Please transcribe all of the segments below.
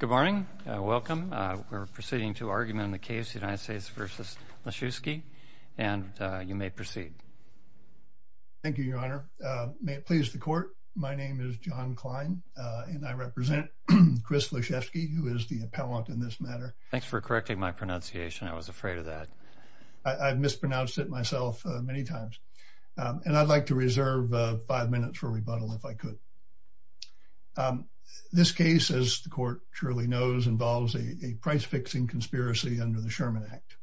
Good morning. Welcome. We're proceeding to argument in the case United States v. Lischewski, and you may proceed. Thank you, Your Honor. May it please the Court, my name is John Klein, and I represent Chris Lischewski, who is the appellant in this matter. Thanks for correcting my pronunciation. I was afraid of that. I've mispronounced it myself many times, and I'd like to reserve five minutes for rebuttal if I could. This case, as the Court surely knows, involves a price-fixing conspiracy under the Sherman Act.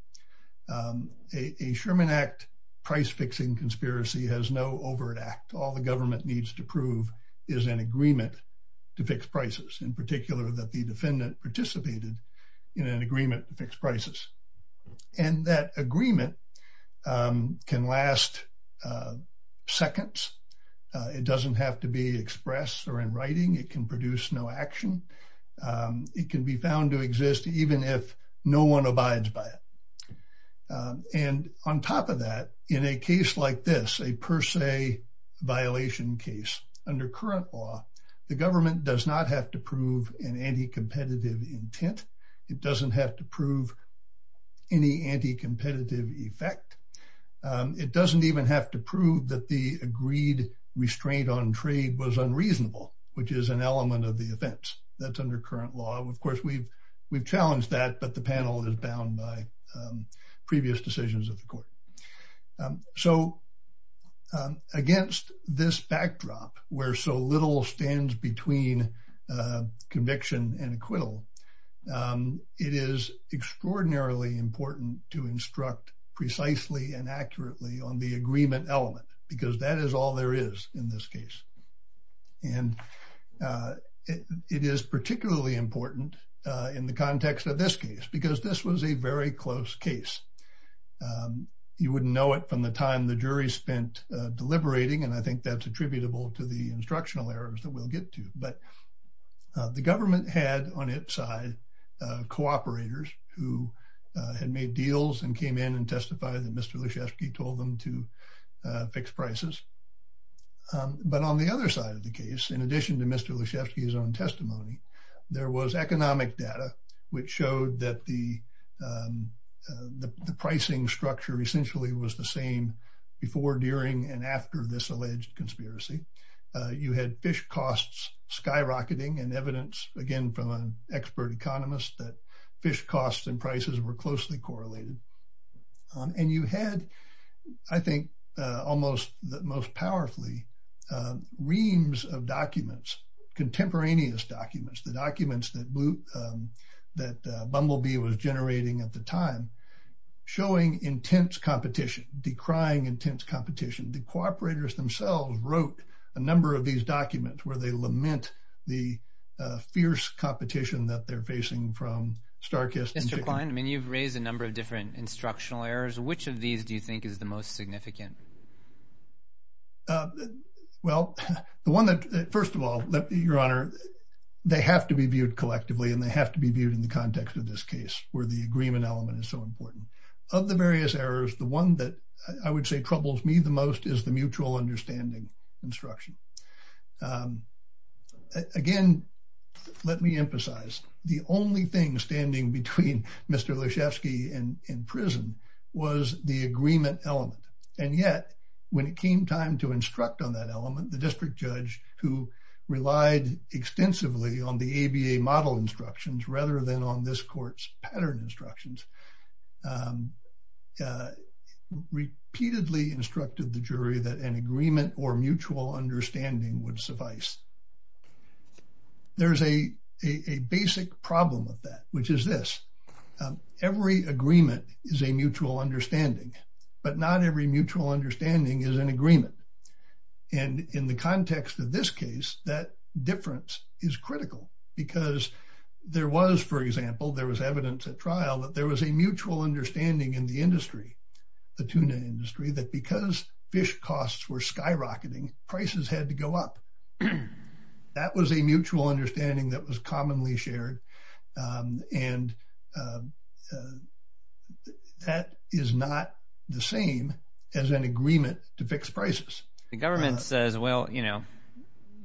A Sherman Act price-fixing conspiracy has no overt act. All the government needs to prove is an agreement to fix prices, in particular that the defendant participated in an agreement to fix prices. And that agreement can last seconds. It doesn't have to be expressed or in writing. It can produce no action. It can be found to exist even if no one abides by it. And on top of that, in a case like this, a per se violation case, under current law, the government does not have to prove an anti-competitive intent. It doesn't have to prove any anti-competitive effect. It doesn't even have to prove that the agreed restraint on trade was unreasonable, which is an element of the offense. That's under current law. Of course, we've challenged that, but the panel is bound by previous decisions of the Court. So, against this backdrop, where so little stands between conviction and acquittal, it is extraordinarily important to instruct precisely and accurately on the agreement element, because that is all there is in this case. And it is particularly important in the context of this case, because this was a very close case. You wouldn't know it from the time the jury spent deliberating, and I think that's attributable to the instructional errors that we'll get to. But the government had, on its side, cooperators who had made deals and came in and testified that Mr. Lyshevsky told them to fix prices. But on the other side of the case, in addition to Mr. Lyshevsky's own testimony, there was economic data which showed that the pricing structure essentially was the same before, during, and after this alleged conspiracy. You had fish costs skyrocketing and evidence, again from an expert economist, that fish costs and prices were closely correlated. And you had, I think, almost most powerfully, reams of documents, contemporaneous documents, the documents that Bumblebee was generating at the time, showing intense competition, decrying intense competition. The cooperators themselves wrote a number of these documents where they lament the fierce competition that they're facing from Starkist. Mr. Klein, I mean, you've raised a number of different instructional errors. Which of these do you think is the most significant? Well, the one that, first of all, your honor, they have to be viewed collectively and they have to be viewed in the context of this case where the agreement element is so important. Of the various errors, the one that I would say troubles me the most is the mutual understanding instruction. Again, let me emphasize, the only thing standing between Mr. Leshefsky and prison was the agreement element. And yet, when it came time to instruct on that element, the district judge, who relied extensively on the ABA model instructions rather than on this court's pattern instructions, repeatedly instructed the jury that an agreement or mutual understanding would suffice. There's a basic problem with that, which is this. Every agreement is a mutual understanding, but not every mutual understanding is an agreement. And in the context of this case, that difference is critical because there was, for example, there was evidence at trial that there was a mutual understanding in the industry, the tuna industry, that because fish costs were skyrocketing, prices had to go up. That was a mutual understanding that was commonly shared and that is not the same as an agreement to fix prices. The government says, well, you know,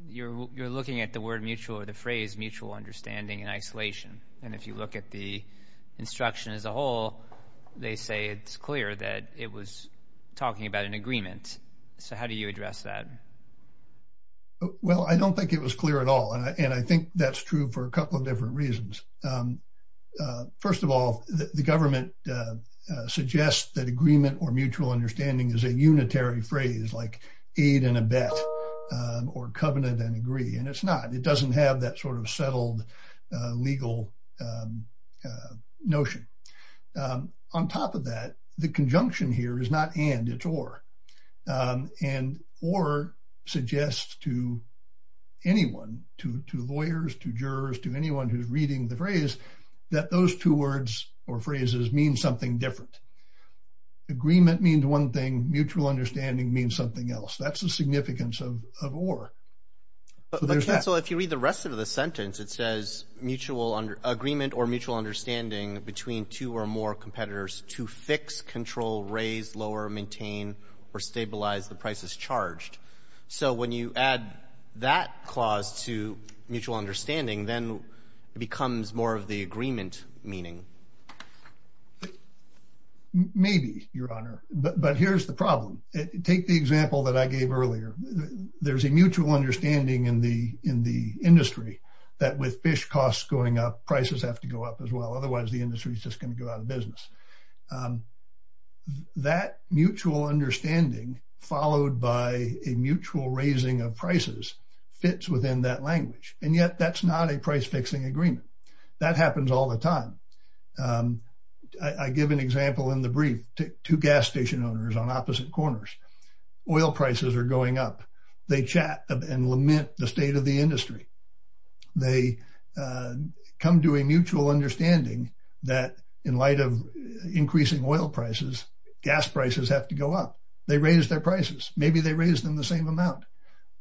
you're looking at the word mutual or the phrase mutual understanding in isolation. And if you look at the instruction as a whole, they say it's clear that it was talking about an agreement. So how do you address that? Well, I don't think it was clear at all. And I think that's true for a couple of different reasons. First of all, the government suggests that agreement or mutual understanding is a unitary phrase like aid and a bet or covenant and agree. And it's not it doesn't have that sort of settled legal notion. On top of that, the conjunction here is not and, it's or. And or suggests to anyone, to lawyers, to jurors, to anyone who's reading the phrase that those two words or phrases mean something different. Agreement means one thing, mutual understanding means something else. That's the significance of or. So if you read the rest of the sentence, it says mutual agreement or mutual understanding between two or more competitors to fix, control, raise, lower, maintain or stabilize the prices charged. So when you add that clause to mutual understanding, then it becomes more of the agreement meaning. Maybe, Your Honor. But here's the problem. Take the example that I gave earlier. There's a mutual understanding in the industry that with fish costs going up, prices have to go up as well. Otherwise, the industry is just going to go out of business. That mutual understanding followed by a mutual raising of prices fits within that language. And yet, that's not a price fixing agreement. That happens all the time. I give an example in the brief to gas station owners on opposite corners. Oil prices are going up. They chat and lament the state of the industry. They come to a mutual understanding that in light of increasing oil prices, gas prices have to go up. They raise their prices. Maybe they raise them the same amount.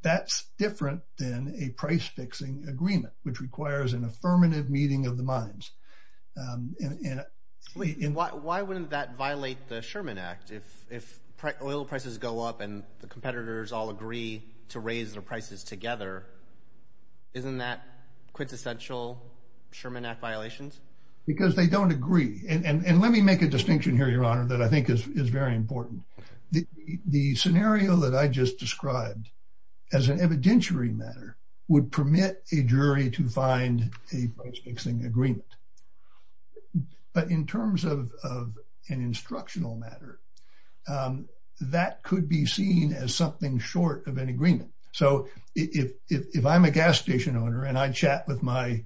That's different than a price fixing agreement, which requires an affirmative meeting of the minds. Why wouldn't that violate the Sherman Act if oil prices go up and the competitors all agree to raise their prices together? Isn't that quintessential Sherman Act violations? Because they don't agree. And let me make a distinction here, Your Honor, that I think is very important. The scenario that I just described as an evidentiary matter would permit a jury to find a price fixing agreement. But in terms of an instructional matter, that could be seen as something short of an agreement. If I'm a gas station owner and I chat with my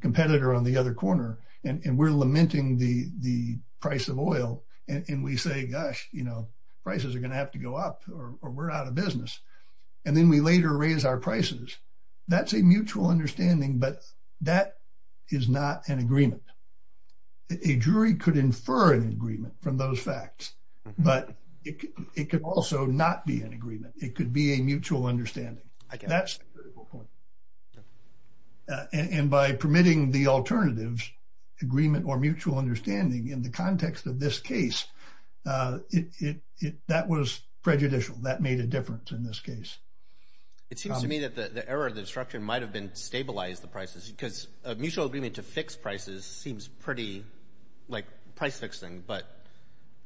competitor on the other corner and we're lamenting the price of oil and we say, gosh, prices are going to have to go up or we're out of business, and then we later raise our prices, that's a mutual understanding. But that is not an agreement. A jury could infer an agreement from those facts, but it could also not be an agreement. It could be a mutual understanding. That's a critical point. And by permitting the alternatives, agreement or mutual understanding in the context of this case, that was prejudicial. That made a difference in this case. It seems to me that the error of the instruction might have been to stabilize the prices, because a mutual agreement to fix prices seems pretty like price fixing. But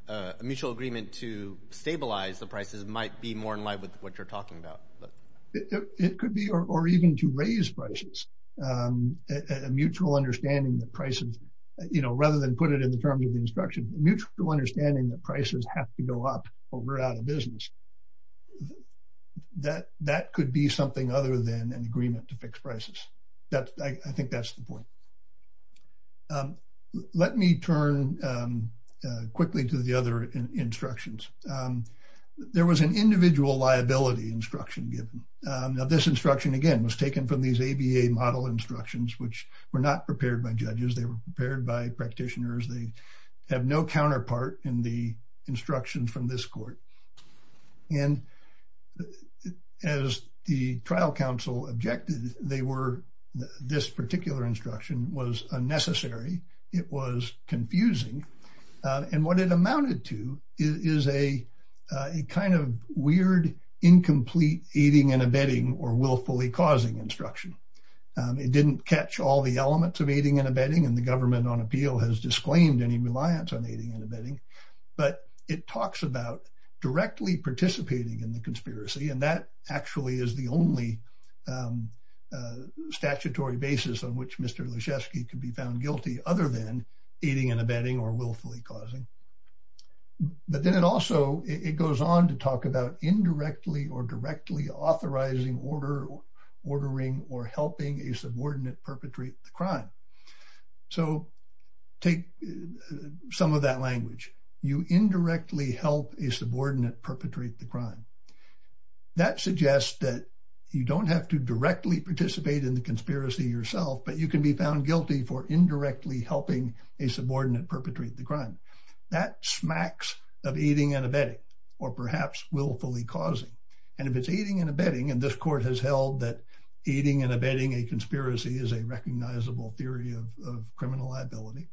a mutual agreement to stabilize the prices might be more in line with what you're talking about. It could be, or even to raise prices, a mutual understanding that prices, you know, rather than put it in the terms of the instruction, a mutual understanding that prices have to go up or we're out of business. That could be something other than an agreement to fix prices. I think that's the point. Let me turn quickly to the other instructions. There was an individual liability instruction given. Now, this instruction, again, was taken from these ABA model instructions, which were not prepared by judges. They were prepared by practitioners. They have no counterpart in the instructions from this court. And as the trial counsel objected, they were, this particular instruction was unnecessary. It was confusing. And what it amounted to is a kind of weird, incomplete aiding and abetting or willfully causing instruction. It didn't catch all the elements of aiding and abetting. And the government on appeal has disclaimed any reliance on aiding and abetting. But it talks about directly participating in the conspiracy. And that actually is the only statutory basis on which Mr. Lyshevsky can be found guilty other than aiding and abetting or willfully causing. But then it also, it goes on to talk about indirectly or directly authorizing, ordering, or helping a subordinate perpetrate the crime. So take some of that language. You indirectly help a subordinate perpetrate the crime. That suggests that you don't have to directly participate in the conspiracy yourself, but you can be found guilty for indirectly helping a subordinate perpetrate the crime. That smacks of aiding and abetting or perhaps willfully causing. And if it's aiding and abetting, and this court has held that aiding and abetting a conspiracy is a recognizable theory of criminal liability,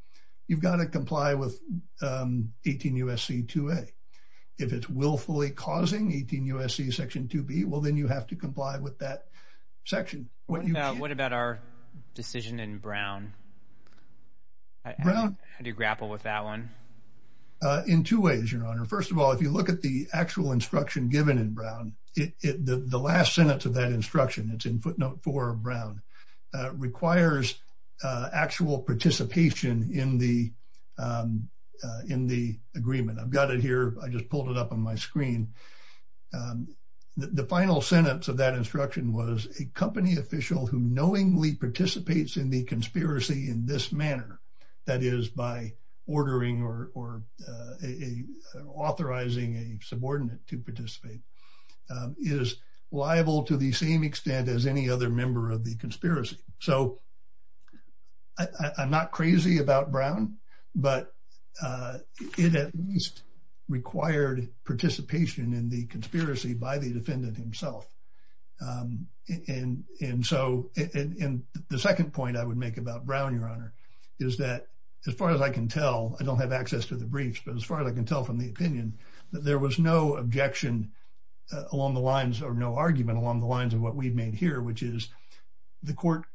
you've got to comply with 18 U.S.C. 2A. If it's willfully causing, 18 U.S.C. Section 2B, well then you have to comply with that section. What about our decision in Brown? How do you grapple with that one? In two ways, Your Honor. First of all, if you look at the actual instruction given in Brown, the last sentence of that instruction, it's in footnote four of Brown, requires actual participation in the agreement. I've got it here. I just pulled it up on my screen. The final sentence of that instruction was a company official who knowingly participates in the conspiracy in this manner, that is by ordering or authorizing a subordinate to participate, is liable to the same extent as any other member of the conspiracy. I'm not crazy about Brown, but it at least required participation in the conspiracy by the defendant himself. The second point I would make about Brown, Your Honor, is that as far as I can tell, I don't have access to the briefs, but as far as I can tell from the opinion, that there was no objection along the lines or no argument along the lines of what we've made here, which is the court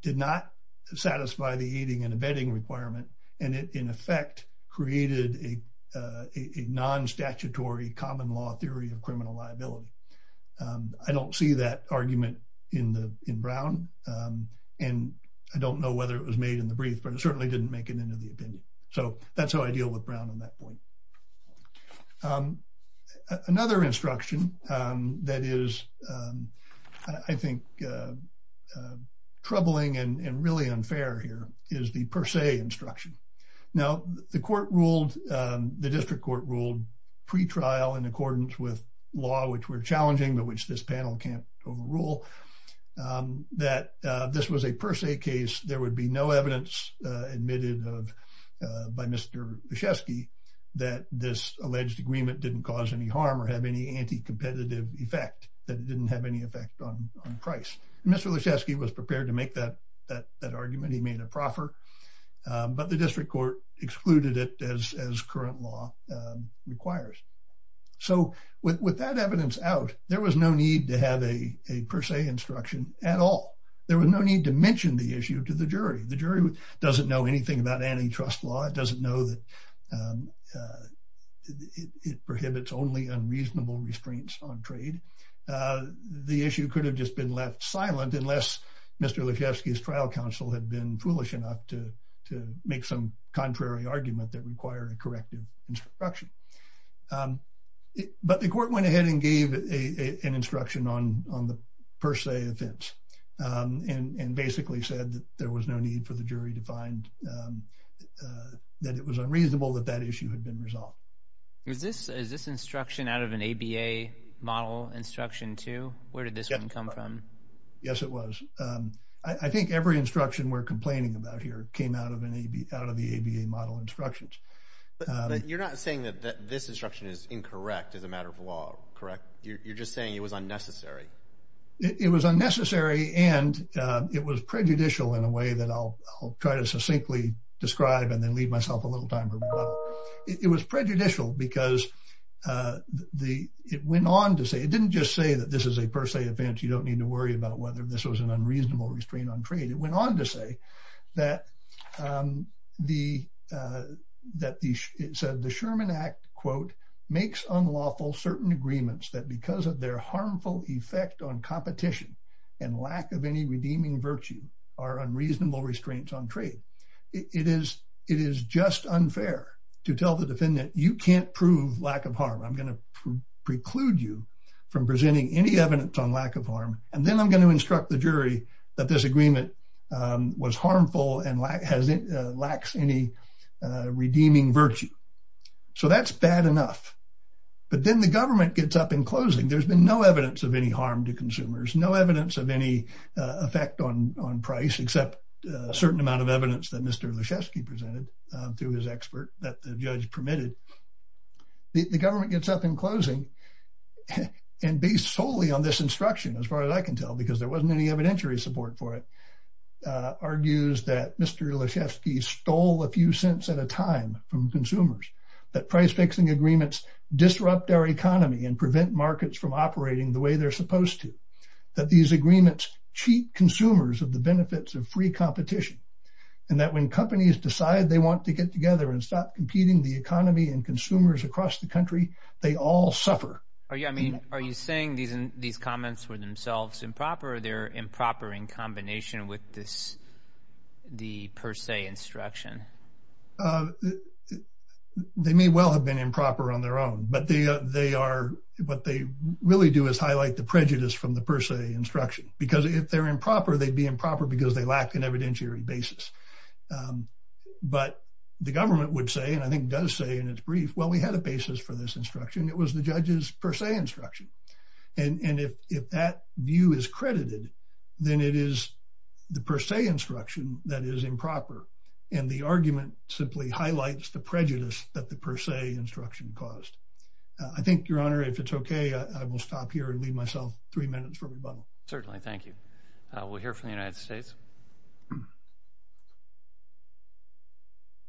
did not satisfy the aiding and abetting requirement. And it, in effect, created a non-statutory common law theory of criminal liability. I don't see that argument in Brown, and I don't know whether it was made in the brief, but it certainly didn't make it into the opinion. So that's how I deal with Brown on that point. Another instruction that is, I think, troubling and really unfair here is the per se instruction. Now, the court ruled, the district court ruled, pre-trial in accordance with law, which were challenging, but which this panel can't overrule, that this was a per se case. There would be no evidence admitted by Mr. Leszewski that this alleged agreement didn't cause any harm or have any anti-competitive effect, that it didn't have any effect on price. Mr. Leszewski was prepared to make that argument. He made a proffer, but the district court excluded it as current law requires. So with that evidence out, there was no need to have a per se instruction at all. There was no need to mention the issue to the jury. The jury doesn't know anything about antitrust law. It doesn't know that it prohibits only unreasonable restraints on trade. The issue could have just been left silent unless Mr. Leszewski's trial counsel had been foolish enough to make some contrary argument that required a corrective instruction. But the court went ahead and gave an instruction on the per se offense and basically said that there was no need for the jury to find that it was unreasonable that that issue had been resolved. Is this instruction out of an ABA model instruction too? Where did this one come from? Yes, it was. I think every instruction we're complaining about here came out of the ABA model instructions. But you're not saying that this instruction is incorrect as a matter of law, correct? You're just saying it was unnecessary. It was unnecessary, and it was prejudicial in a way that I'll try to succinctly describe and then leave myself a little time for rebuttal. It was prejudicial because it didn't just say that this is a per se offense. You don't need to worry about whether this was an unreasonable restraint on trade. It went on to say that the Sherman Act, quote, makes unlawful certain agreements that because of their harmful effect on competition and lack of any redeeming virtue are unreasonable restraints on trade. It is just unfair to tell the defendant you can't prove lack of harm. I'm going to preclude you from presenting any evidence on lack of harm, and then I'm going to instruct the jury that this agreement was harmful and lacks any redeeming virtue. So that's bad enough. But then the government gets up in closing. There's been no evidence of any harm to consumers, no evidence of any effect on price except a certain amount of evidence that Mr. Lischewski presented through his expert that the judge permitted. The government gets up in closing and based solely on this instruction, as far as I can tell, because there wasn't any evidentiary support for it, argues that Mr. Lischewski stole a few cents at a time from consumers, that price-fixing agreements disrupt our economy and prevent markets from operating the way they're supposed to. That these agreements cheat consumers of the benefits of free competition and that when companies decide they want to get together and stop competing the economy and consumers across the country, they all suffer. Are you saying these comments were themselves improper or they're improper in combination with the per se instruction? They may well have been improper on their own, but what they really do is highlight the prejudice from the per se instruction, because if they're improper, they'd be improper because they lack an evidentiary basis. But the government would say, and I think does say in its brief, well, we had a basis for this instruction. It was the judge's per se instruction. And if that view is credited, then it is the per se instruction that is improper. And the argument simply highlights the prejudice that the per se instruction caused. I think, Your Honor, if it's okay, I will stop here and leave myself three minutes for rebuttal. Certainly. Thank you. We'll hear from the United States.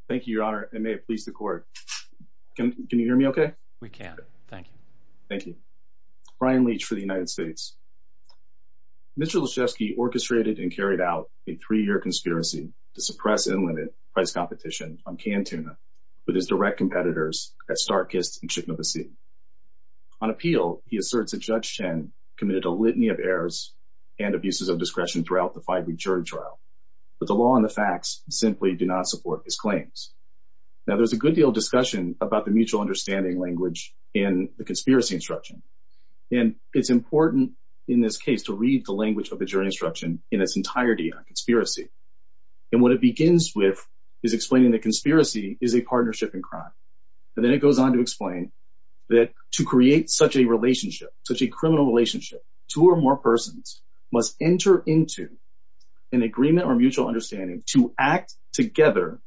Thank you, Your Honor, and may it please the court. Can you hear me okay? We can. Thank you. Thank you. Brian Leach for the United States. Mr. Liszewski orchestrated and carried out a three-year conspiracy to suppress and limit price competition on canned tuna with his direct competitors at Starkist and Chitinabesit. On appeal, he asserts that Judge Chen committed a litany of errors and abuses of discretion throughout the five-week jury trial. But the law and the facts simply do not support his claims. Now, there's a good deal of discussion about the mutual understanding language in the conspiracy instruction. And it's important in this case to read the language of the jury instruction in its entirety on conspiracy. And what it begins with is explaining that conspiracy is a partnership in crime. And then it goes on to explain that to create such a relationship, such a criminal relationship, two or more persons must enter into an agreement or mutual understanding to act together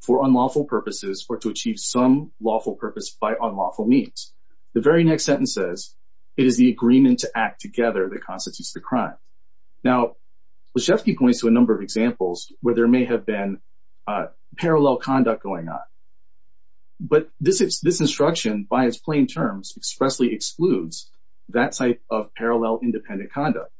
for unlawful purposes or to achieve some lawful purpose by unlawful means. The very next sentence says, it is the agreement to act together that constitutes the crime. Now, Liszewski points to a number of examples where there may have been parallel conduct going on. But this instruction, by its plain terms, expressly excludes that type of parallel independent conduct.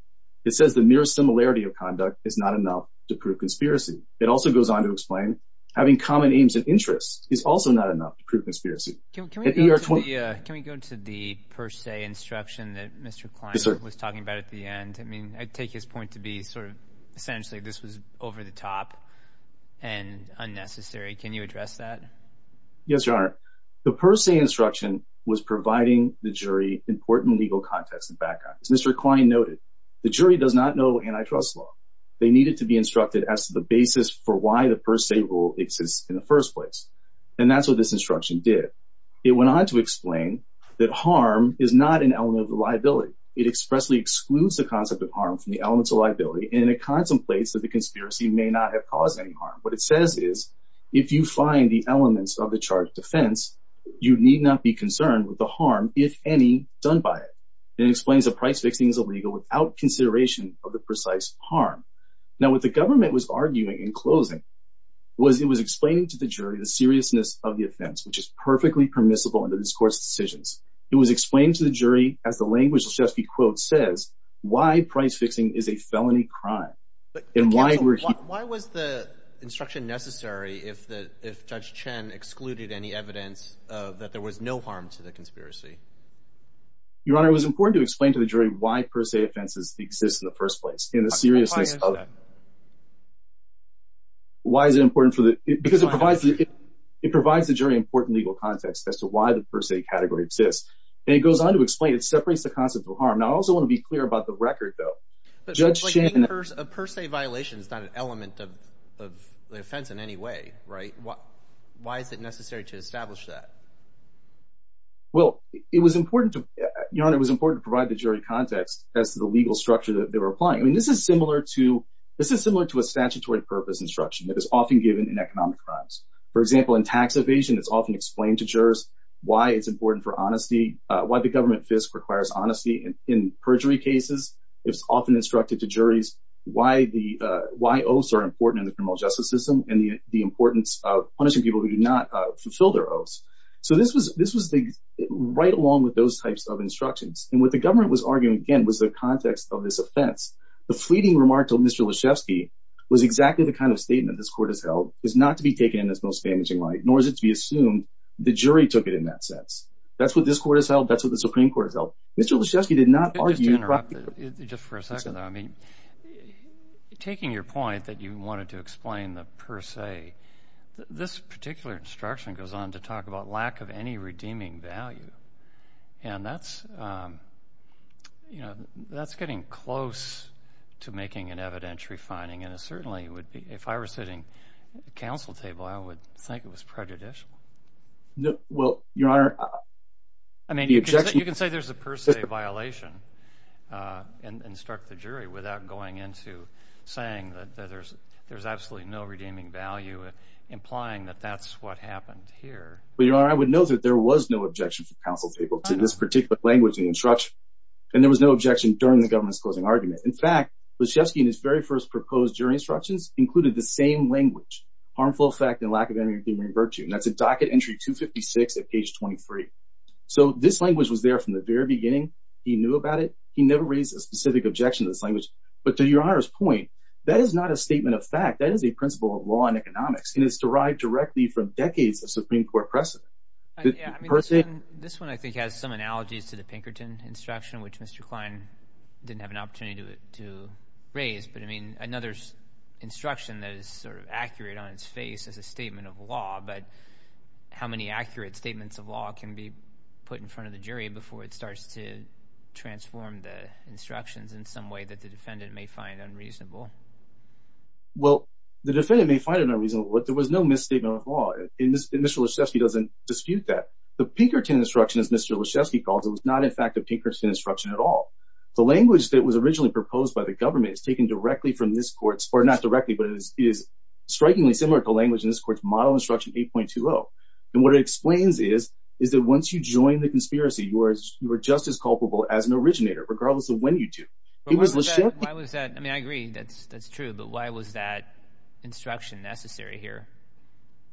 It says the mere similarity of conduct is not enough to prove conspiracy. It also goes on to explain having common aims and interests is also not enough to prove conspiracy. Can we go to the per se instruction that Mr. Klein was talking about at the end? I mean, I take his point to be sort of essentially this was over the top and unnecessary. Can you address that? Yes, Your Honor. The per se instruction was providing the jury important legal context and background. As Mr. Klein noted, the jury does not know antitrust law. They needed to be instructed as to the basis for why the per se rule exists in the first place. And that's what this instruction did. It went on to explain that harm is not an element of liability. It expressly excludes the concept of harm from the elements of liability. And it contemplates that the conspiracy may not have caused any harm. What it says is, if you find the elements of the charge of defense, you need not be concerned with the harm, if any, done by it. It explains that price fixing is illegal without consideration of the precise harm. Now, what the government was arguing in closing was it was explaining to the jury the seriousness of the offense, which is perfectly permissible under this court's decisions. It was explained to the jury, as the language of the quote says, why price fixing is a felony crime. Why was the instruction necessary if Judge Chen excluded any evidence that there was no harm to the conspiracy? Your Honor, it was important to explain to the jury why per se offenses exist in the first place. Why is it important for the – because it provides the jury important legal context as to why the per se category exists. And it goes on to explain it separates the concept of harm. Now, I also want to be clear about the record, though. Judge Chen – A per se violation is not an element of the offense in any way, right? Why is it necessary to establish that? Well, it was important to – Your Honor, it was important to provide the jury context as to the legal structure that they were applying. I mean, this is similar to – this is similar to a statutory purpose instruction that is often given in economic crimes. For example, in tax evasion, it's often explained to jurors why it's important for honesty, why the government FISC requires honesty. In perjury cases, it's often instructed to juries why the – why oaths are important in the criminal justice system and the importance of punishing people who do not fulfill their oaths. So this was the – right along with those types of instructions. And what the government was arguing, again, was the context of this offense. The fleeting remark to Mr. Lyshevsky was exactly the kind of statement this court has held, is not to be taken in its most damaging light, nor is it to be assumed the jury took it in that sense. That's what this court has held. That's what the Supreme Court has held. Mr. Lyshevsky did not argue – Just to interrupt, just for a second, though. I mean, taking your point that you wanted to explain the per se, this particular instruction goes on to talk about lack of any redeeming value. And that's – you know, that's getting close to making an evidentiary finding. And it certainly would be – if I were sitting at the counsel table, I would think it was prejudicial. Well, Your Honor – I mean, you can say there's a per se violation and instruct the jury without going into saying that there's absolutely no redeeming value, implying that that's what happened here. But, Your Honor, I would note that there was no objection from counsel table to this particular language in the instruction. And there was no objection during the government's closing argument. In fact, Lyshevsky in his very first proposed jury instructions included the same language, harmful effect and lack of any redeeming virtue. And that's at docket entry 256 at page 23. So this language was there from the very beginning. He knew about it. He never raised a specific objection to this language. But to Your Honor's point, that is not a statement of fact. That is a principle of law and economics. And it's derived directly from decades of Supreme Court precedent. Yeah, I mean, this one I think has some analogies to the Pinkerton instruction, which Mr. Klein didn't have an opportunity to raise. But, I mean, another instruction that is sort of accurate on its face is a statement of law. But how many accurate statements of law can be put in front of the jury before it starts to transform the instructions in some way that the defendant may find unreasonable? Well, the defendant may find it unreasonable, but there was no misstatement of law. And Mr. Lyshevsky doesn't dispute that. The Pinkerton instruction, as Mr. Lyshevsky calls it, was not in fact a Pinkerton instruction at all. The language that was originally proposed by the government is taken directly from this court's, or not directly, but it is strikingly similar to the language in this court's model instruction 8.20. And what it explains is that once you join the conspiracy, you are just as culpable as an originator, regardless of when you do. I agree. That's true. But why was that instruction necessary here?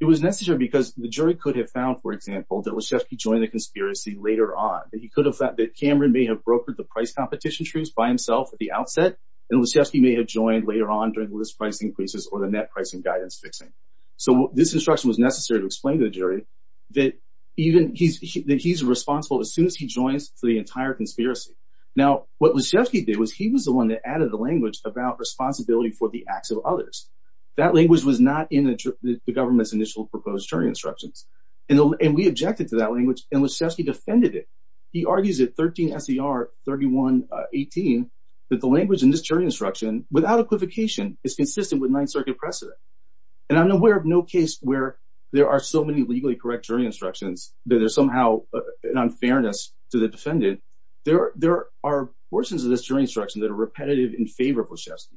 It was necessary because the jury could have found, for example, that Lyshevsky joined the conspiracy later on. That Cameron may have brokered the price competition truce by himself at the outset, and Lyshevsky may have joined later on during the list price increases or the net pricing guidance fixing. So this instruction was necessary to explain to the jury that he's responsible as soon as he joins the entire conspiracy. Now, what Lyshevsky did was he was the one that added the language about responsibility for the acts of others. That language was not in the government's initial proposed jury instructions. And we objected to that language, and Lyshevsky defended it. He argues at 13 S.E.R. 31.18 that the language in this jury instruction, without equivocation, is consistent with Ninth Circuit precedent. And I'm aware of no case where there are so many legally correct jury instructions that there's somehow an unfairness to the defendant. There are portions of this jury instruction that are repetitive and favorable to Lyshevsky.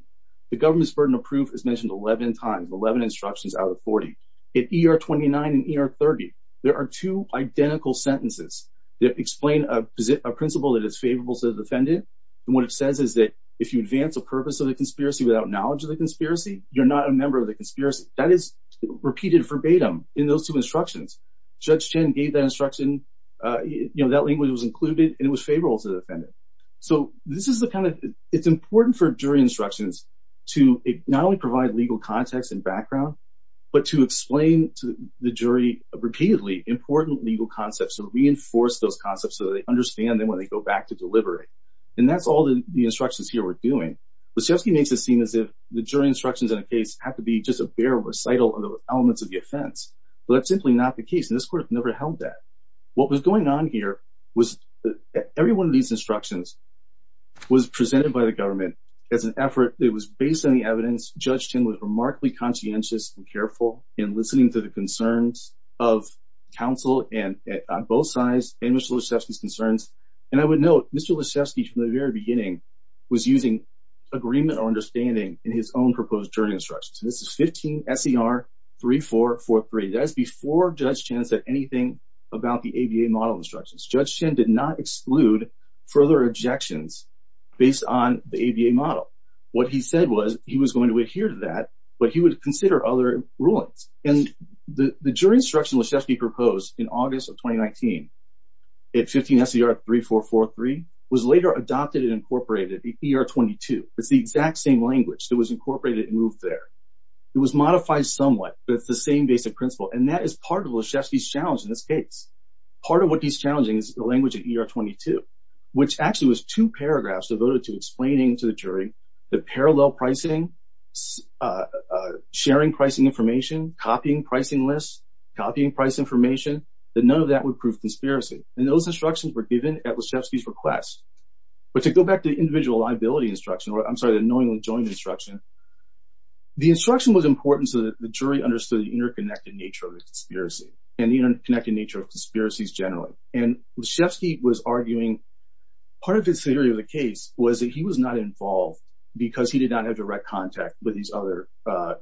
The government's burden of proof is mentioned 11 times, 11 instructions out of 40. At E.R. 29 and E.R. 30, there are two identical sentences that explain a principle that is favorable to the defendant. And what it says is that if you advance the purpose of the conspiracy without knowledge of the conspiracy, you're not a member of the conspiracy. That is repeated verbatim in those two instructions. Judge Chen gave that instruction. You know, that language was included, and it was favorable to the defendant. So this is the kind of – it's important for jury instructions to not only provide legal context and background, but to explain to the jury repeatedly important legal concepts and reinforce those concepts so that they understand them when they go back to deliberate. And that's all the instructions here were doing. Lyshevsky makes it seem as if the jury instructions in a case have to be just a bare recital of the elements of the offense. But that's simply not the case, and this court never held that. What was going on here was every one of these instructions was presented by the government as an effort that was based on the evidence. Judge Chen was remarkably conscientious and careful in listening to the concerns of counsel on both sides and Mr. Lyshevsky's concerns. And I would note Mr. Lyshevsky, from the very beginning, was using agreement or understanding in his own proposed jury instructions. This is 15 S.E.R. 3443. That is before Judge Chen said anything about the ABA model instructions. Judge Chen did not exclude further objections based on the ABA model. What he said was he was going to adhere to that, but he would consider other rulings. And the jury instruction Lyshevsky proposed in August of 2019, 15 S.E.R. 3443, was later adopted and incorporated, the E.R. 22. It's the exact same language that was incorporated and moved there. It was modified somewhat, but it's the same basic principle, and that is part of Lyshevsky's challenge in this case. Part of what he's challenging is the language of E.R. 22, which actually was two paragraphs devoted to explaining to the jury the parallel pricing, sharing pricing information, copying pricing lists, copying price information, that none of that would prove conspiracy. And those instructions were given at Lyshevsky's request. But to go back to the individual liability instruction, or I'm sorry, the knowingly joined instruction, the instruction was important so that the jury understood the interconnected nature of the conspiracy and the interconnected nature of conspiracies generally. And Lyshevsky was arguing part of his theory of the case was that he was not involved because he did not have direct contact with these other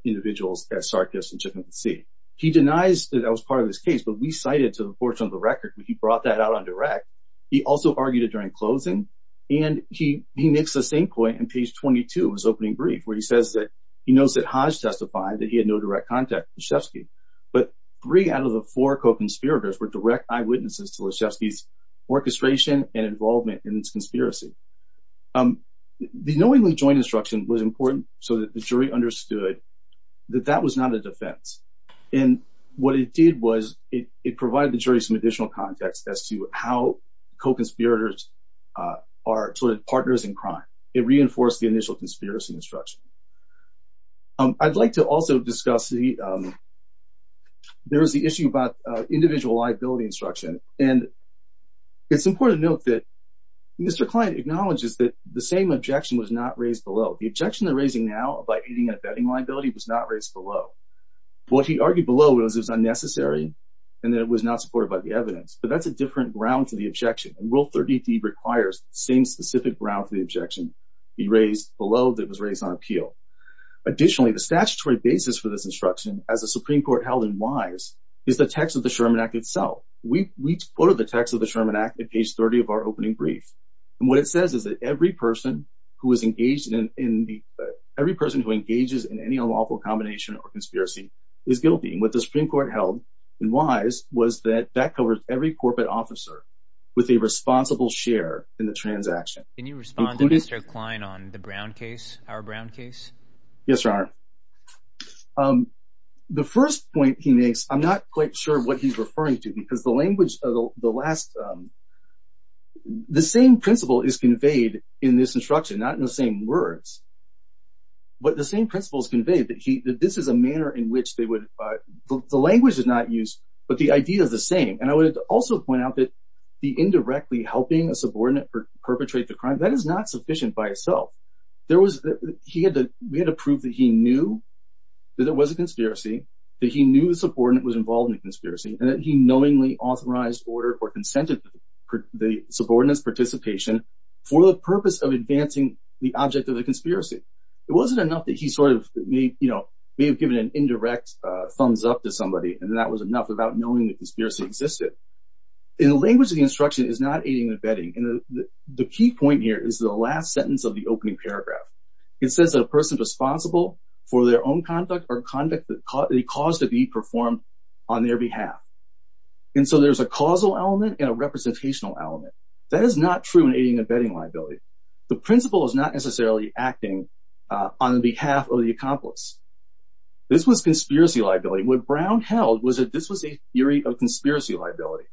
individuals at Sarkis and Chippenham C. He denies that that was part of his case, but we cited, to the fortune of the record, he brought that out on direct. He also argued it during closing, and he makes the same point on page 22 of his opening brief, where he says that he knows that Hodge testified that he had no direct contact with Lyshevsky. But three out of the four co-conspirators were direct eyewitnesses to Lyshevsky's orchestration and involvement in this conspiracy. The knowingly joined instruction was important so that the jury understood that that was not a defense. And what it did was it provided the jury some additional context as to how co-conspirators are sort of partners in crime. It reinforced the initial conspiracy instruction. I'd like to also discuss the – there was the issue about individual liability instruction, and it's important to note that Mr. Klein acknowledges that the same objection was not raised below. The objection they're raising now about aiding and abetting liability was not raised below. What he argued below was it was unnecessary and that it was not supported by the evidence, but that's a different ground to the objection. And Rule 30D requires the same specific ground to the objection be raised below that was raised on appeal. Additionally, the statutory basis for this instruction, as the Supreme Court held it wise, is the text of the Sherman Act itself. We quoted the text of the Sherman Act at page 30 of our opening brief. And what it says is that every person who is engaged in – every person who engages in any unlawful combination or conspiracy is guilty. And what the Supreme Court held and wise was that that covers every corporate officer with a responsible share in the transaction. Can you respond to Mr. Klein on the Brown case, our Brown case? Yes, Your Honor. The first point he makes, I'm not quite sure what he's referring to because the language of the last – the same principle is conveyed in this instruction, not in the same words. But the same principle is conveyed that this is a manner in which they would – the language is not used, but the idea is the same. And I would also point out that the indirectly helping a subordinate perpetrate the crime, that is not sufficient by itself. There was – he had to – we had to prove that he knew that there was a conspiracy, that he knew the subordinate was involved in the conspiracy, and that he knowingly authorized, ordered, or consented the subordinate's participation for the purpose of advancing the object of the conspiracy. It wasn't enough that he sort of may have given an indirect thumbs up to somebody, and that was enough without knowing the conspiracy existed. And the language of the instruction is not aiding and abetting. And the key point here is the last sentence of the opening paragraph. It says that a person is responsible for their own conduct or conduct that they cause to be performed on their behalf. And so there's a causal element and a representational element. That is not true in aiding and abetting liability. The principle is not necessarily acting on behalf of the accomplice. This was conspiracy liability. What Brown held was that this was a theory of conspiracy liability.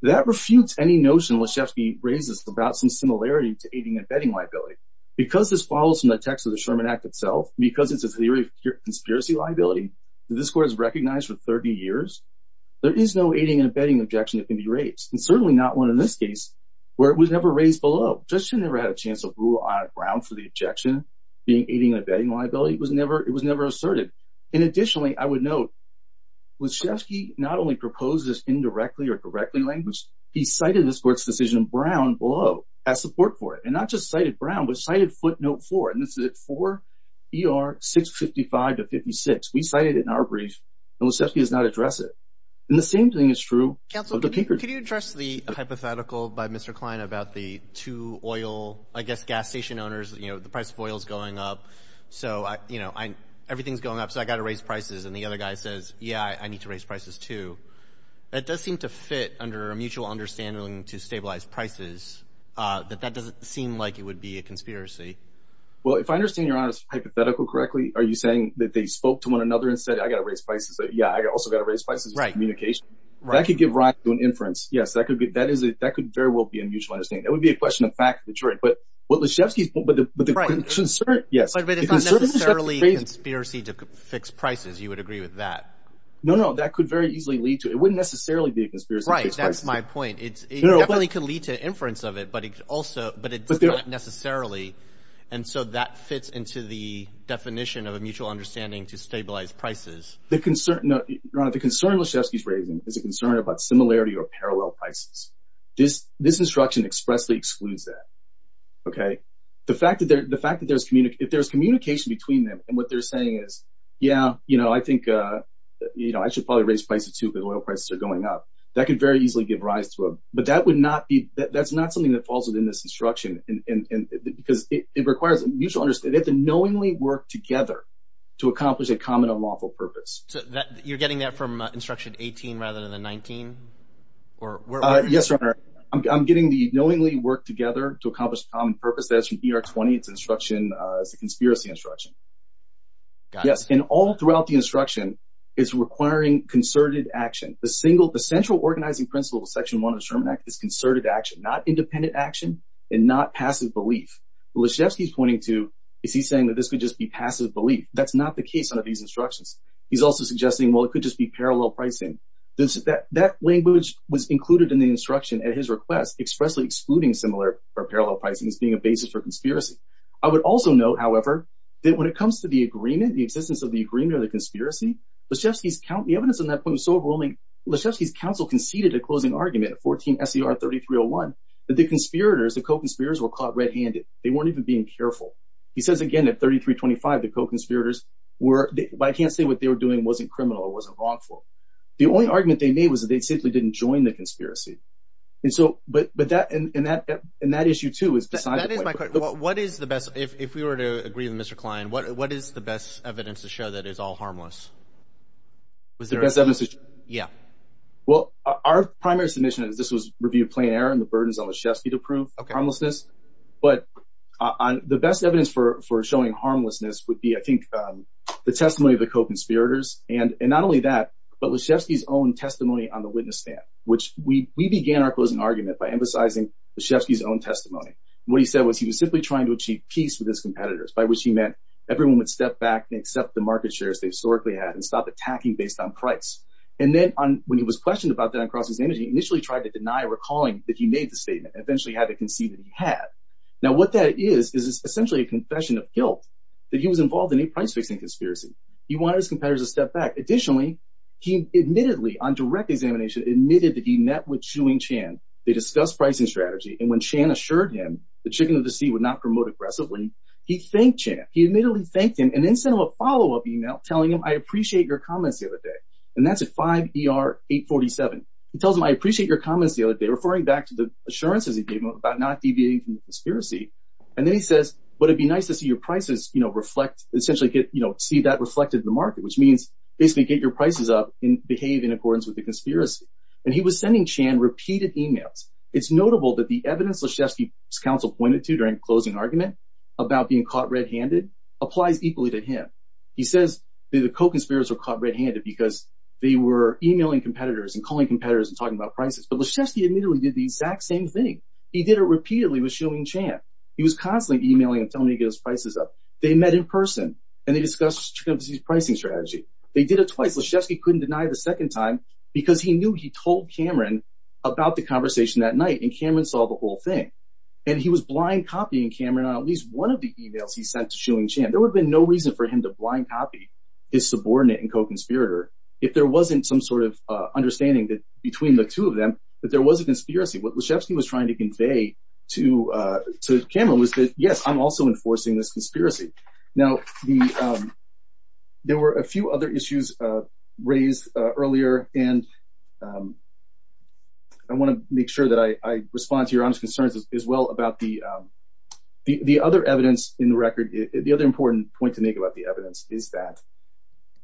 That refutes any notion Leshefsky raises about some similarity to aiding and abetting liability. Because this follows from the text of the Sherman Act itself, because it's a theory of conspiracy liability, that this court has recognized for 30 years, there is no aiding and abetting objection that can be raised, and certainly not one in this case where it was never raised below. The judge should have never had a chance to rule on Brown for the objection being aiding and abetting liability. It was never asserted. And additionally, I would note, Leshefsky not only proposes indirectly or directly language, he cited this court's decision in Brown below as support for it. And not just cited Brown, but cited footnote 4, and this is at 4 ER 655 to 56. We cited it in our brief, and Leshefsky does not address it. And the same thing is true of the Pinkerton. Could you address the hypothetical by Mr. Klein about the two oil, I guess, gas station owners, you know, the price of oil is going up. So, you know, everything is going up, so I got to raise prices. And the other guy says, yeah, I need to raise prices too. That does seem to fit under a mutual understanding to stabilize prices, that that doesn't seem like it would be a conspiracy. Well, if I understand Your Honor's hypothetical correctly, are you saying that they spoke to one another and said, I got to raise prices. Yeah, I also got to raise prices. Right. That could give rise to an inference. Yes, that could very well be a mutual understanding. That would be a question of fact of the jury. But Leshefsky's point, but the concern, yes. But it's not necessarily a conspiracy to fix prices. You would agree with that? No, no, that could very easily lead to it. It wouldn't necessarily be a conspiracy to fix prices. Right, that's my point. It definitely could lead to inference of it, but it does not necessarily. And so that fits into the definition of a mutual understanding to stabilize prices. Your Honor, the concern Leshefsky's raising is a concern about similarity or parallel prices. This instruction expressly excludes that. Okay. The fact that there's – if there's communication between them and what they're saying is, yeah, you know, I think, you know, I should probably raise prices too because oil prices are going up. That could very easily give rise to a – but that would not be – that's not something that falls within this instruction because it requires a mutual understanding. They have to knowingly work together to accomplish a common unlawful purpose. So you're getting that from Instruction 18 rather than the 19? Yes, Your Honor. I'm getting the knowingly work together to accomplish a common purpose. That's from ER-20. It's an instruction – it's a conspiracy instruction. Yes, and all throughout the instruction is requiring concerted action. The central organizing principle of Section 1 of the Sherman Act is concerted action, not independent action and not passive belief. What Leshefsky's pointing to is he's saying that this could just be passive belief. That's not the case under these instructions. He's also suggesting, well, it could just be parallel pricing. That language was included in the instruction at his request, expressly excluding similarity or parallel pricing as being a basis for conspiracy. I would also note, however, that when it comes to the agreement, the existence of the agreement or the conspiracy, Leshefsky's – the evidence on that point was so overwhelming, Leshefsky's counsel conceded a closing argument at 14 S.E.R. 3301 that the conspirators, the co-conspirators were caught red-handed. They weren't even being careful. He says again at 3325 the co-conspirators were – I can't say what they were doing wasn't criminal or wasn't wrongful. The only argument they made was that they simply didn't join the conspiracy. And so – but that – and that issue too is decided – That is my question. What is the best – if we were to agree with Mr. Klein, what is the best evidence to show that it's all harmless? The best evidence? Yeah. Well, our primary submission is this was review of plain error and the burdens on Leshefsky to prove harmlessness. But the best evidence for showing harmlessness would be, I think, the testimony of the co-conspirators. And not only that, but Leshefsky's own testimony on the witness stand, which we began our closing argument by emphasizing Leshefsky's own testimony. What he said was he was simply trying to achieve peace with his competitors, by which he meant everyone would step back and accept the market shares they historically had and stop attacking based on price. And then when he was questioned about that on cross-examination, he initially tried to deny recalling that he made the statement, and eventually had to concede that he had. Now, what that is is essentially a confession of guilt that he was involved in a price-fixing conspiracy. He wanted his competitors to step back. Additionally, he admittedly on direct examination admitted that he met with Chu and Chan. They discussed pricing strategy. And when Chan assured him the chicken of the sea would not promote aggressively, he thanked Chan. He admittedly thanked him and then sent him a follow-up email telling him, I appreciate your comments the other day. And that's at 5 ER 847. He tells him, I appreciate your comments the other day, referring back to the assurances he gave him about not deviating from the conspiracy. And then he says, would it be nice to see your prices, you know, reflect, essentially get, you know, see that reflected in the market, which means basically get your prices up and behave in accordance with the conspiracy. And he was sending Chan repeated emails. It's notable that the evidence Leshefsky's counsel pointed to during closing argument about being caught red-handed applies equally to him. He says the co-conspirators were caught red-handed because they were emailing competitors and calling competitors and talking about prices. But Leshefsky admittedly did the exact same thing. He did it repeatedly with Chu and Chan. He was constantly emailing and telling me to get his prices up. They met in person and they discussed chicken of the sea's pricing strategy. They did it twice. Leshefsky couldn't deny the second time because he knew he told Cameron about the conversation that night and Cameron saw the whole thing. And he was blind copying Cameron on at least one of the emails he sent to Chu and Chan. There would have been no reason for him to blind copy his subordinate and co-conspirator if there wasn't some sort of understanding between the two of them that there was a conspiracy. What Leshefsky was trying to convey to Cameron was that, yes, I'm also enforcing this conspiracy. Now, there were a few other issues raised earlier, and I want to make sure that I respond to your honest concerns as well about the other evidence in the record. The other important point to make about the evidence is that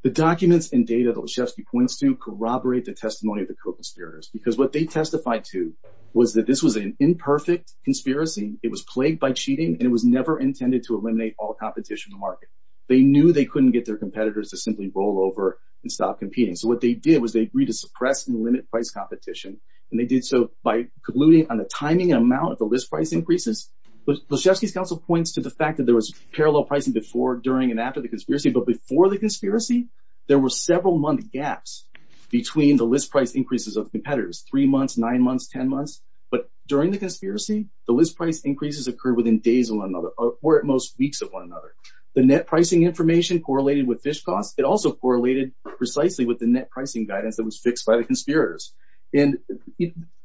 the documents and data that Leshefsky points to corroborate the testimony of the co-conspirators because what they testified to was that this was an imperfect conspiracy. It was plagued by cheating, and it was never intended to eliminate all competition in the market. They knew they couldn't get their competitors to simply roll over and stop competing. So what they did was they agreed to suppress and limit price competition, and they did so by concluding on the timing and amount of the list price increases. Leshefsky's counsel points to the fact that there was parallel pricing before, during, and after the conspiracy. But before the conspiracy, there were several-month gaps between the list price increases of competitors, three months, nine months, ten months. But during the conspiracy, the list price increases occurred within days of one another or at most weeks of one another. The net pricing information correlated with fish costs. It also correlated precisely with the net pricing guidance that was fixed by the conspirators. And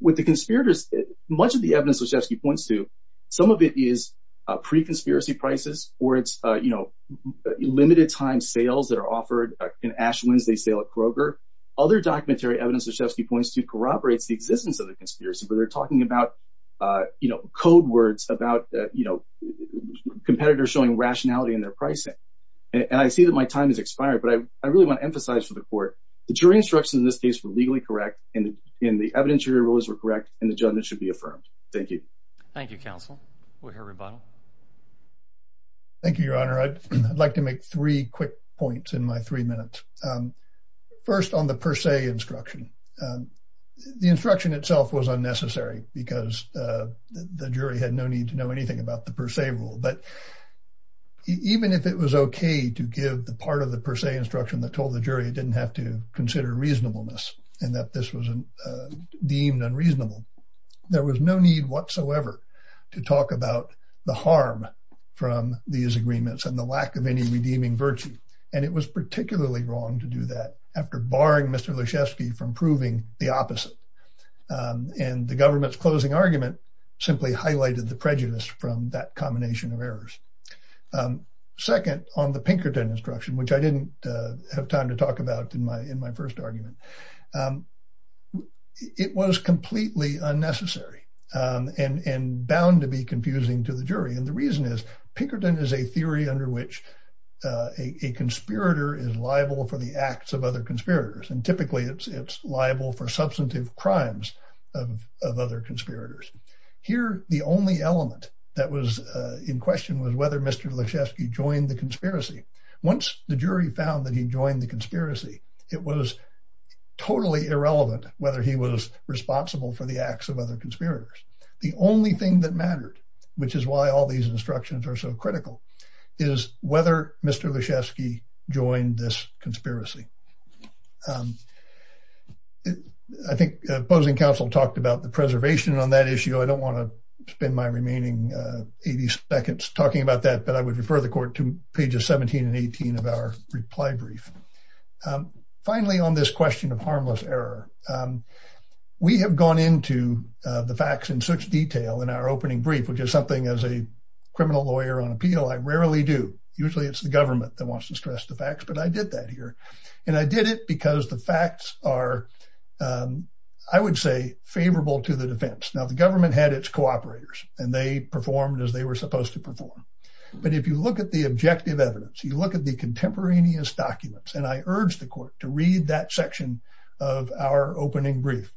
with the conspirators, much of the evidence Leshefsky points to, some of it is pre-conspiracy prices or it's, you know, limited-time sales that are offered in Ash Wednesday sale at Kroger. Other documentary evidence Leshefsky points to corroborates the existence of the conspiracy, but they're talking about, you know, code words about, you know, competitors showing rationality in their pricing. And I see that my time has expired, but I really want to emphasize for the court, the jury instructions in this case were legally correct, and the evidentiary rules were correct, and the judgment should be affirmed. Thank you. Thank you, counsel. We'll hear rebuttal. Thank you, Your Honor. I'd like to make three quick points in my three minutes. First, on the per se instruction. The instruction itself was unnecessary because the jury had no need to know anything about the per se rule. But even if it was okay to give the part of the per se instruction that told the jury it didn't have to consider reasonableness and that this was deemed unreasonable, there was no need whatsoever to talk about the harm from these agreements and the lack of any redeeming virtue. And it was particularly wrong to do that after barring Mr. Leshefsky from proving the opposite. And the government's closing argument simply highlighted the prejudice from that combination of errors. Second, on the Pinkerton instruction, which I didn't have time to talk about in my first argument, it was completely unnecessary and bound to be confusing to the jury. And the reason is Pinkerton is a theory under which a conspirator is liable for the acts of other conspirators. And typically, it's liable for substantive crimes of other conspirators. Here, the only element that was in question was whether Mr. Leshefsky joined the conspiracy. Once the jury found that he joined the conspiracy, it was totally irrelevant whether he was responsible for the acts of other conspirators. The only thing that mattered, which is why all these instructions are so critical, is whether Mr. Leshefsky joined this conspiracy. I think opposing counsel talked about the preservation on that issue. I don't want to spend my remaining 80 seconds talking about that, but I would refer the court to pages 17 and 18 of our reply brief. Finally, on this question of harmless error, we have gone into the facts in such detail in our opening brief, which is something as a criminal lawyer on appeal, I rarely do. Usually, it's the government that wants to stress the facts, but I did that here. And I did it because the facts are, I would say, favorable to the defense. Now, the government had its cooperators, and they performed as they were supposed to perform. But if you look at the objective evidence, you look at the contemporaneous documents, and I urge the court to read that section of our opening brief.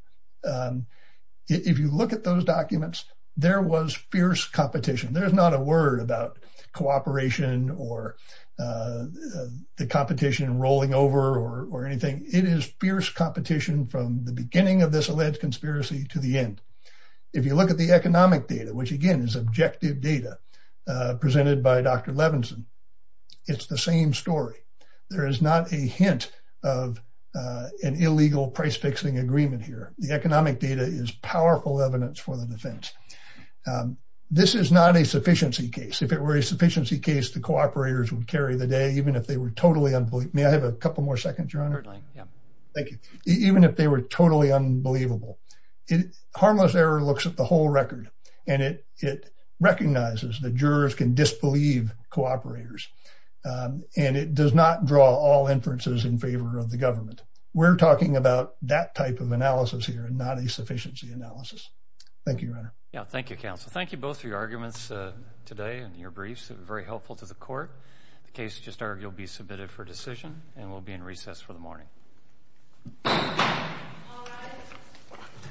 If you look at those documents, there was fierce competition. There's not a word about cooperation or the competition rolling over or anything. It is fierce competition from the beginning of this alleged conspiracy to the end. If you look at the economic data, which, again, is objective data presented by Dr. Levinson, it's the same story. There is not a hint of an illegal price-fixing agreement here. The economic data is powerful evidence for the defense. This is not a sufficiency case. If it were a sufficiency case, the cooperators would carry the day, even if they were totally unbelievable. May I have a couple more seconds, Your Honor? Certainly, yeah. Thank you. Even if they were totally unbelievable. Harmless error looks at the whole record, and it recognizes that jurors can disbelieve cooperators, and it does not draw all inferences in favor of the government. We're talking about that type of analysis here and not a sufficiency analysis. Thank you, Your Honor. Thank you, counsel. Thank you both for your arguments today and your briefs. It was very helpful to the court. The case will be submitted for decision and will be in recess for the morning.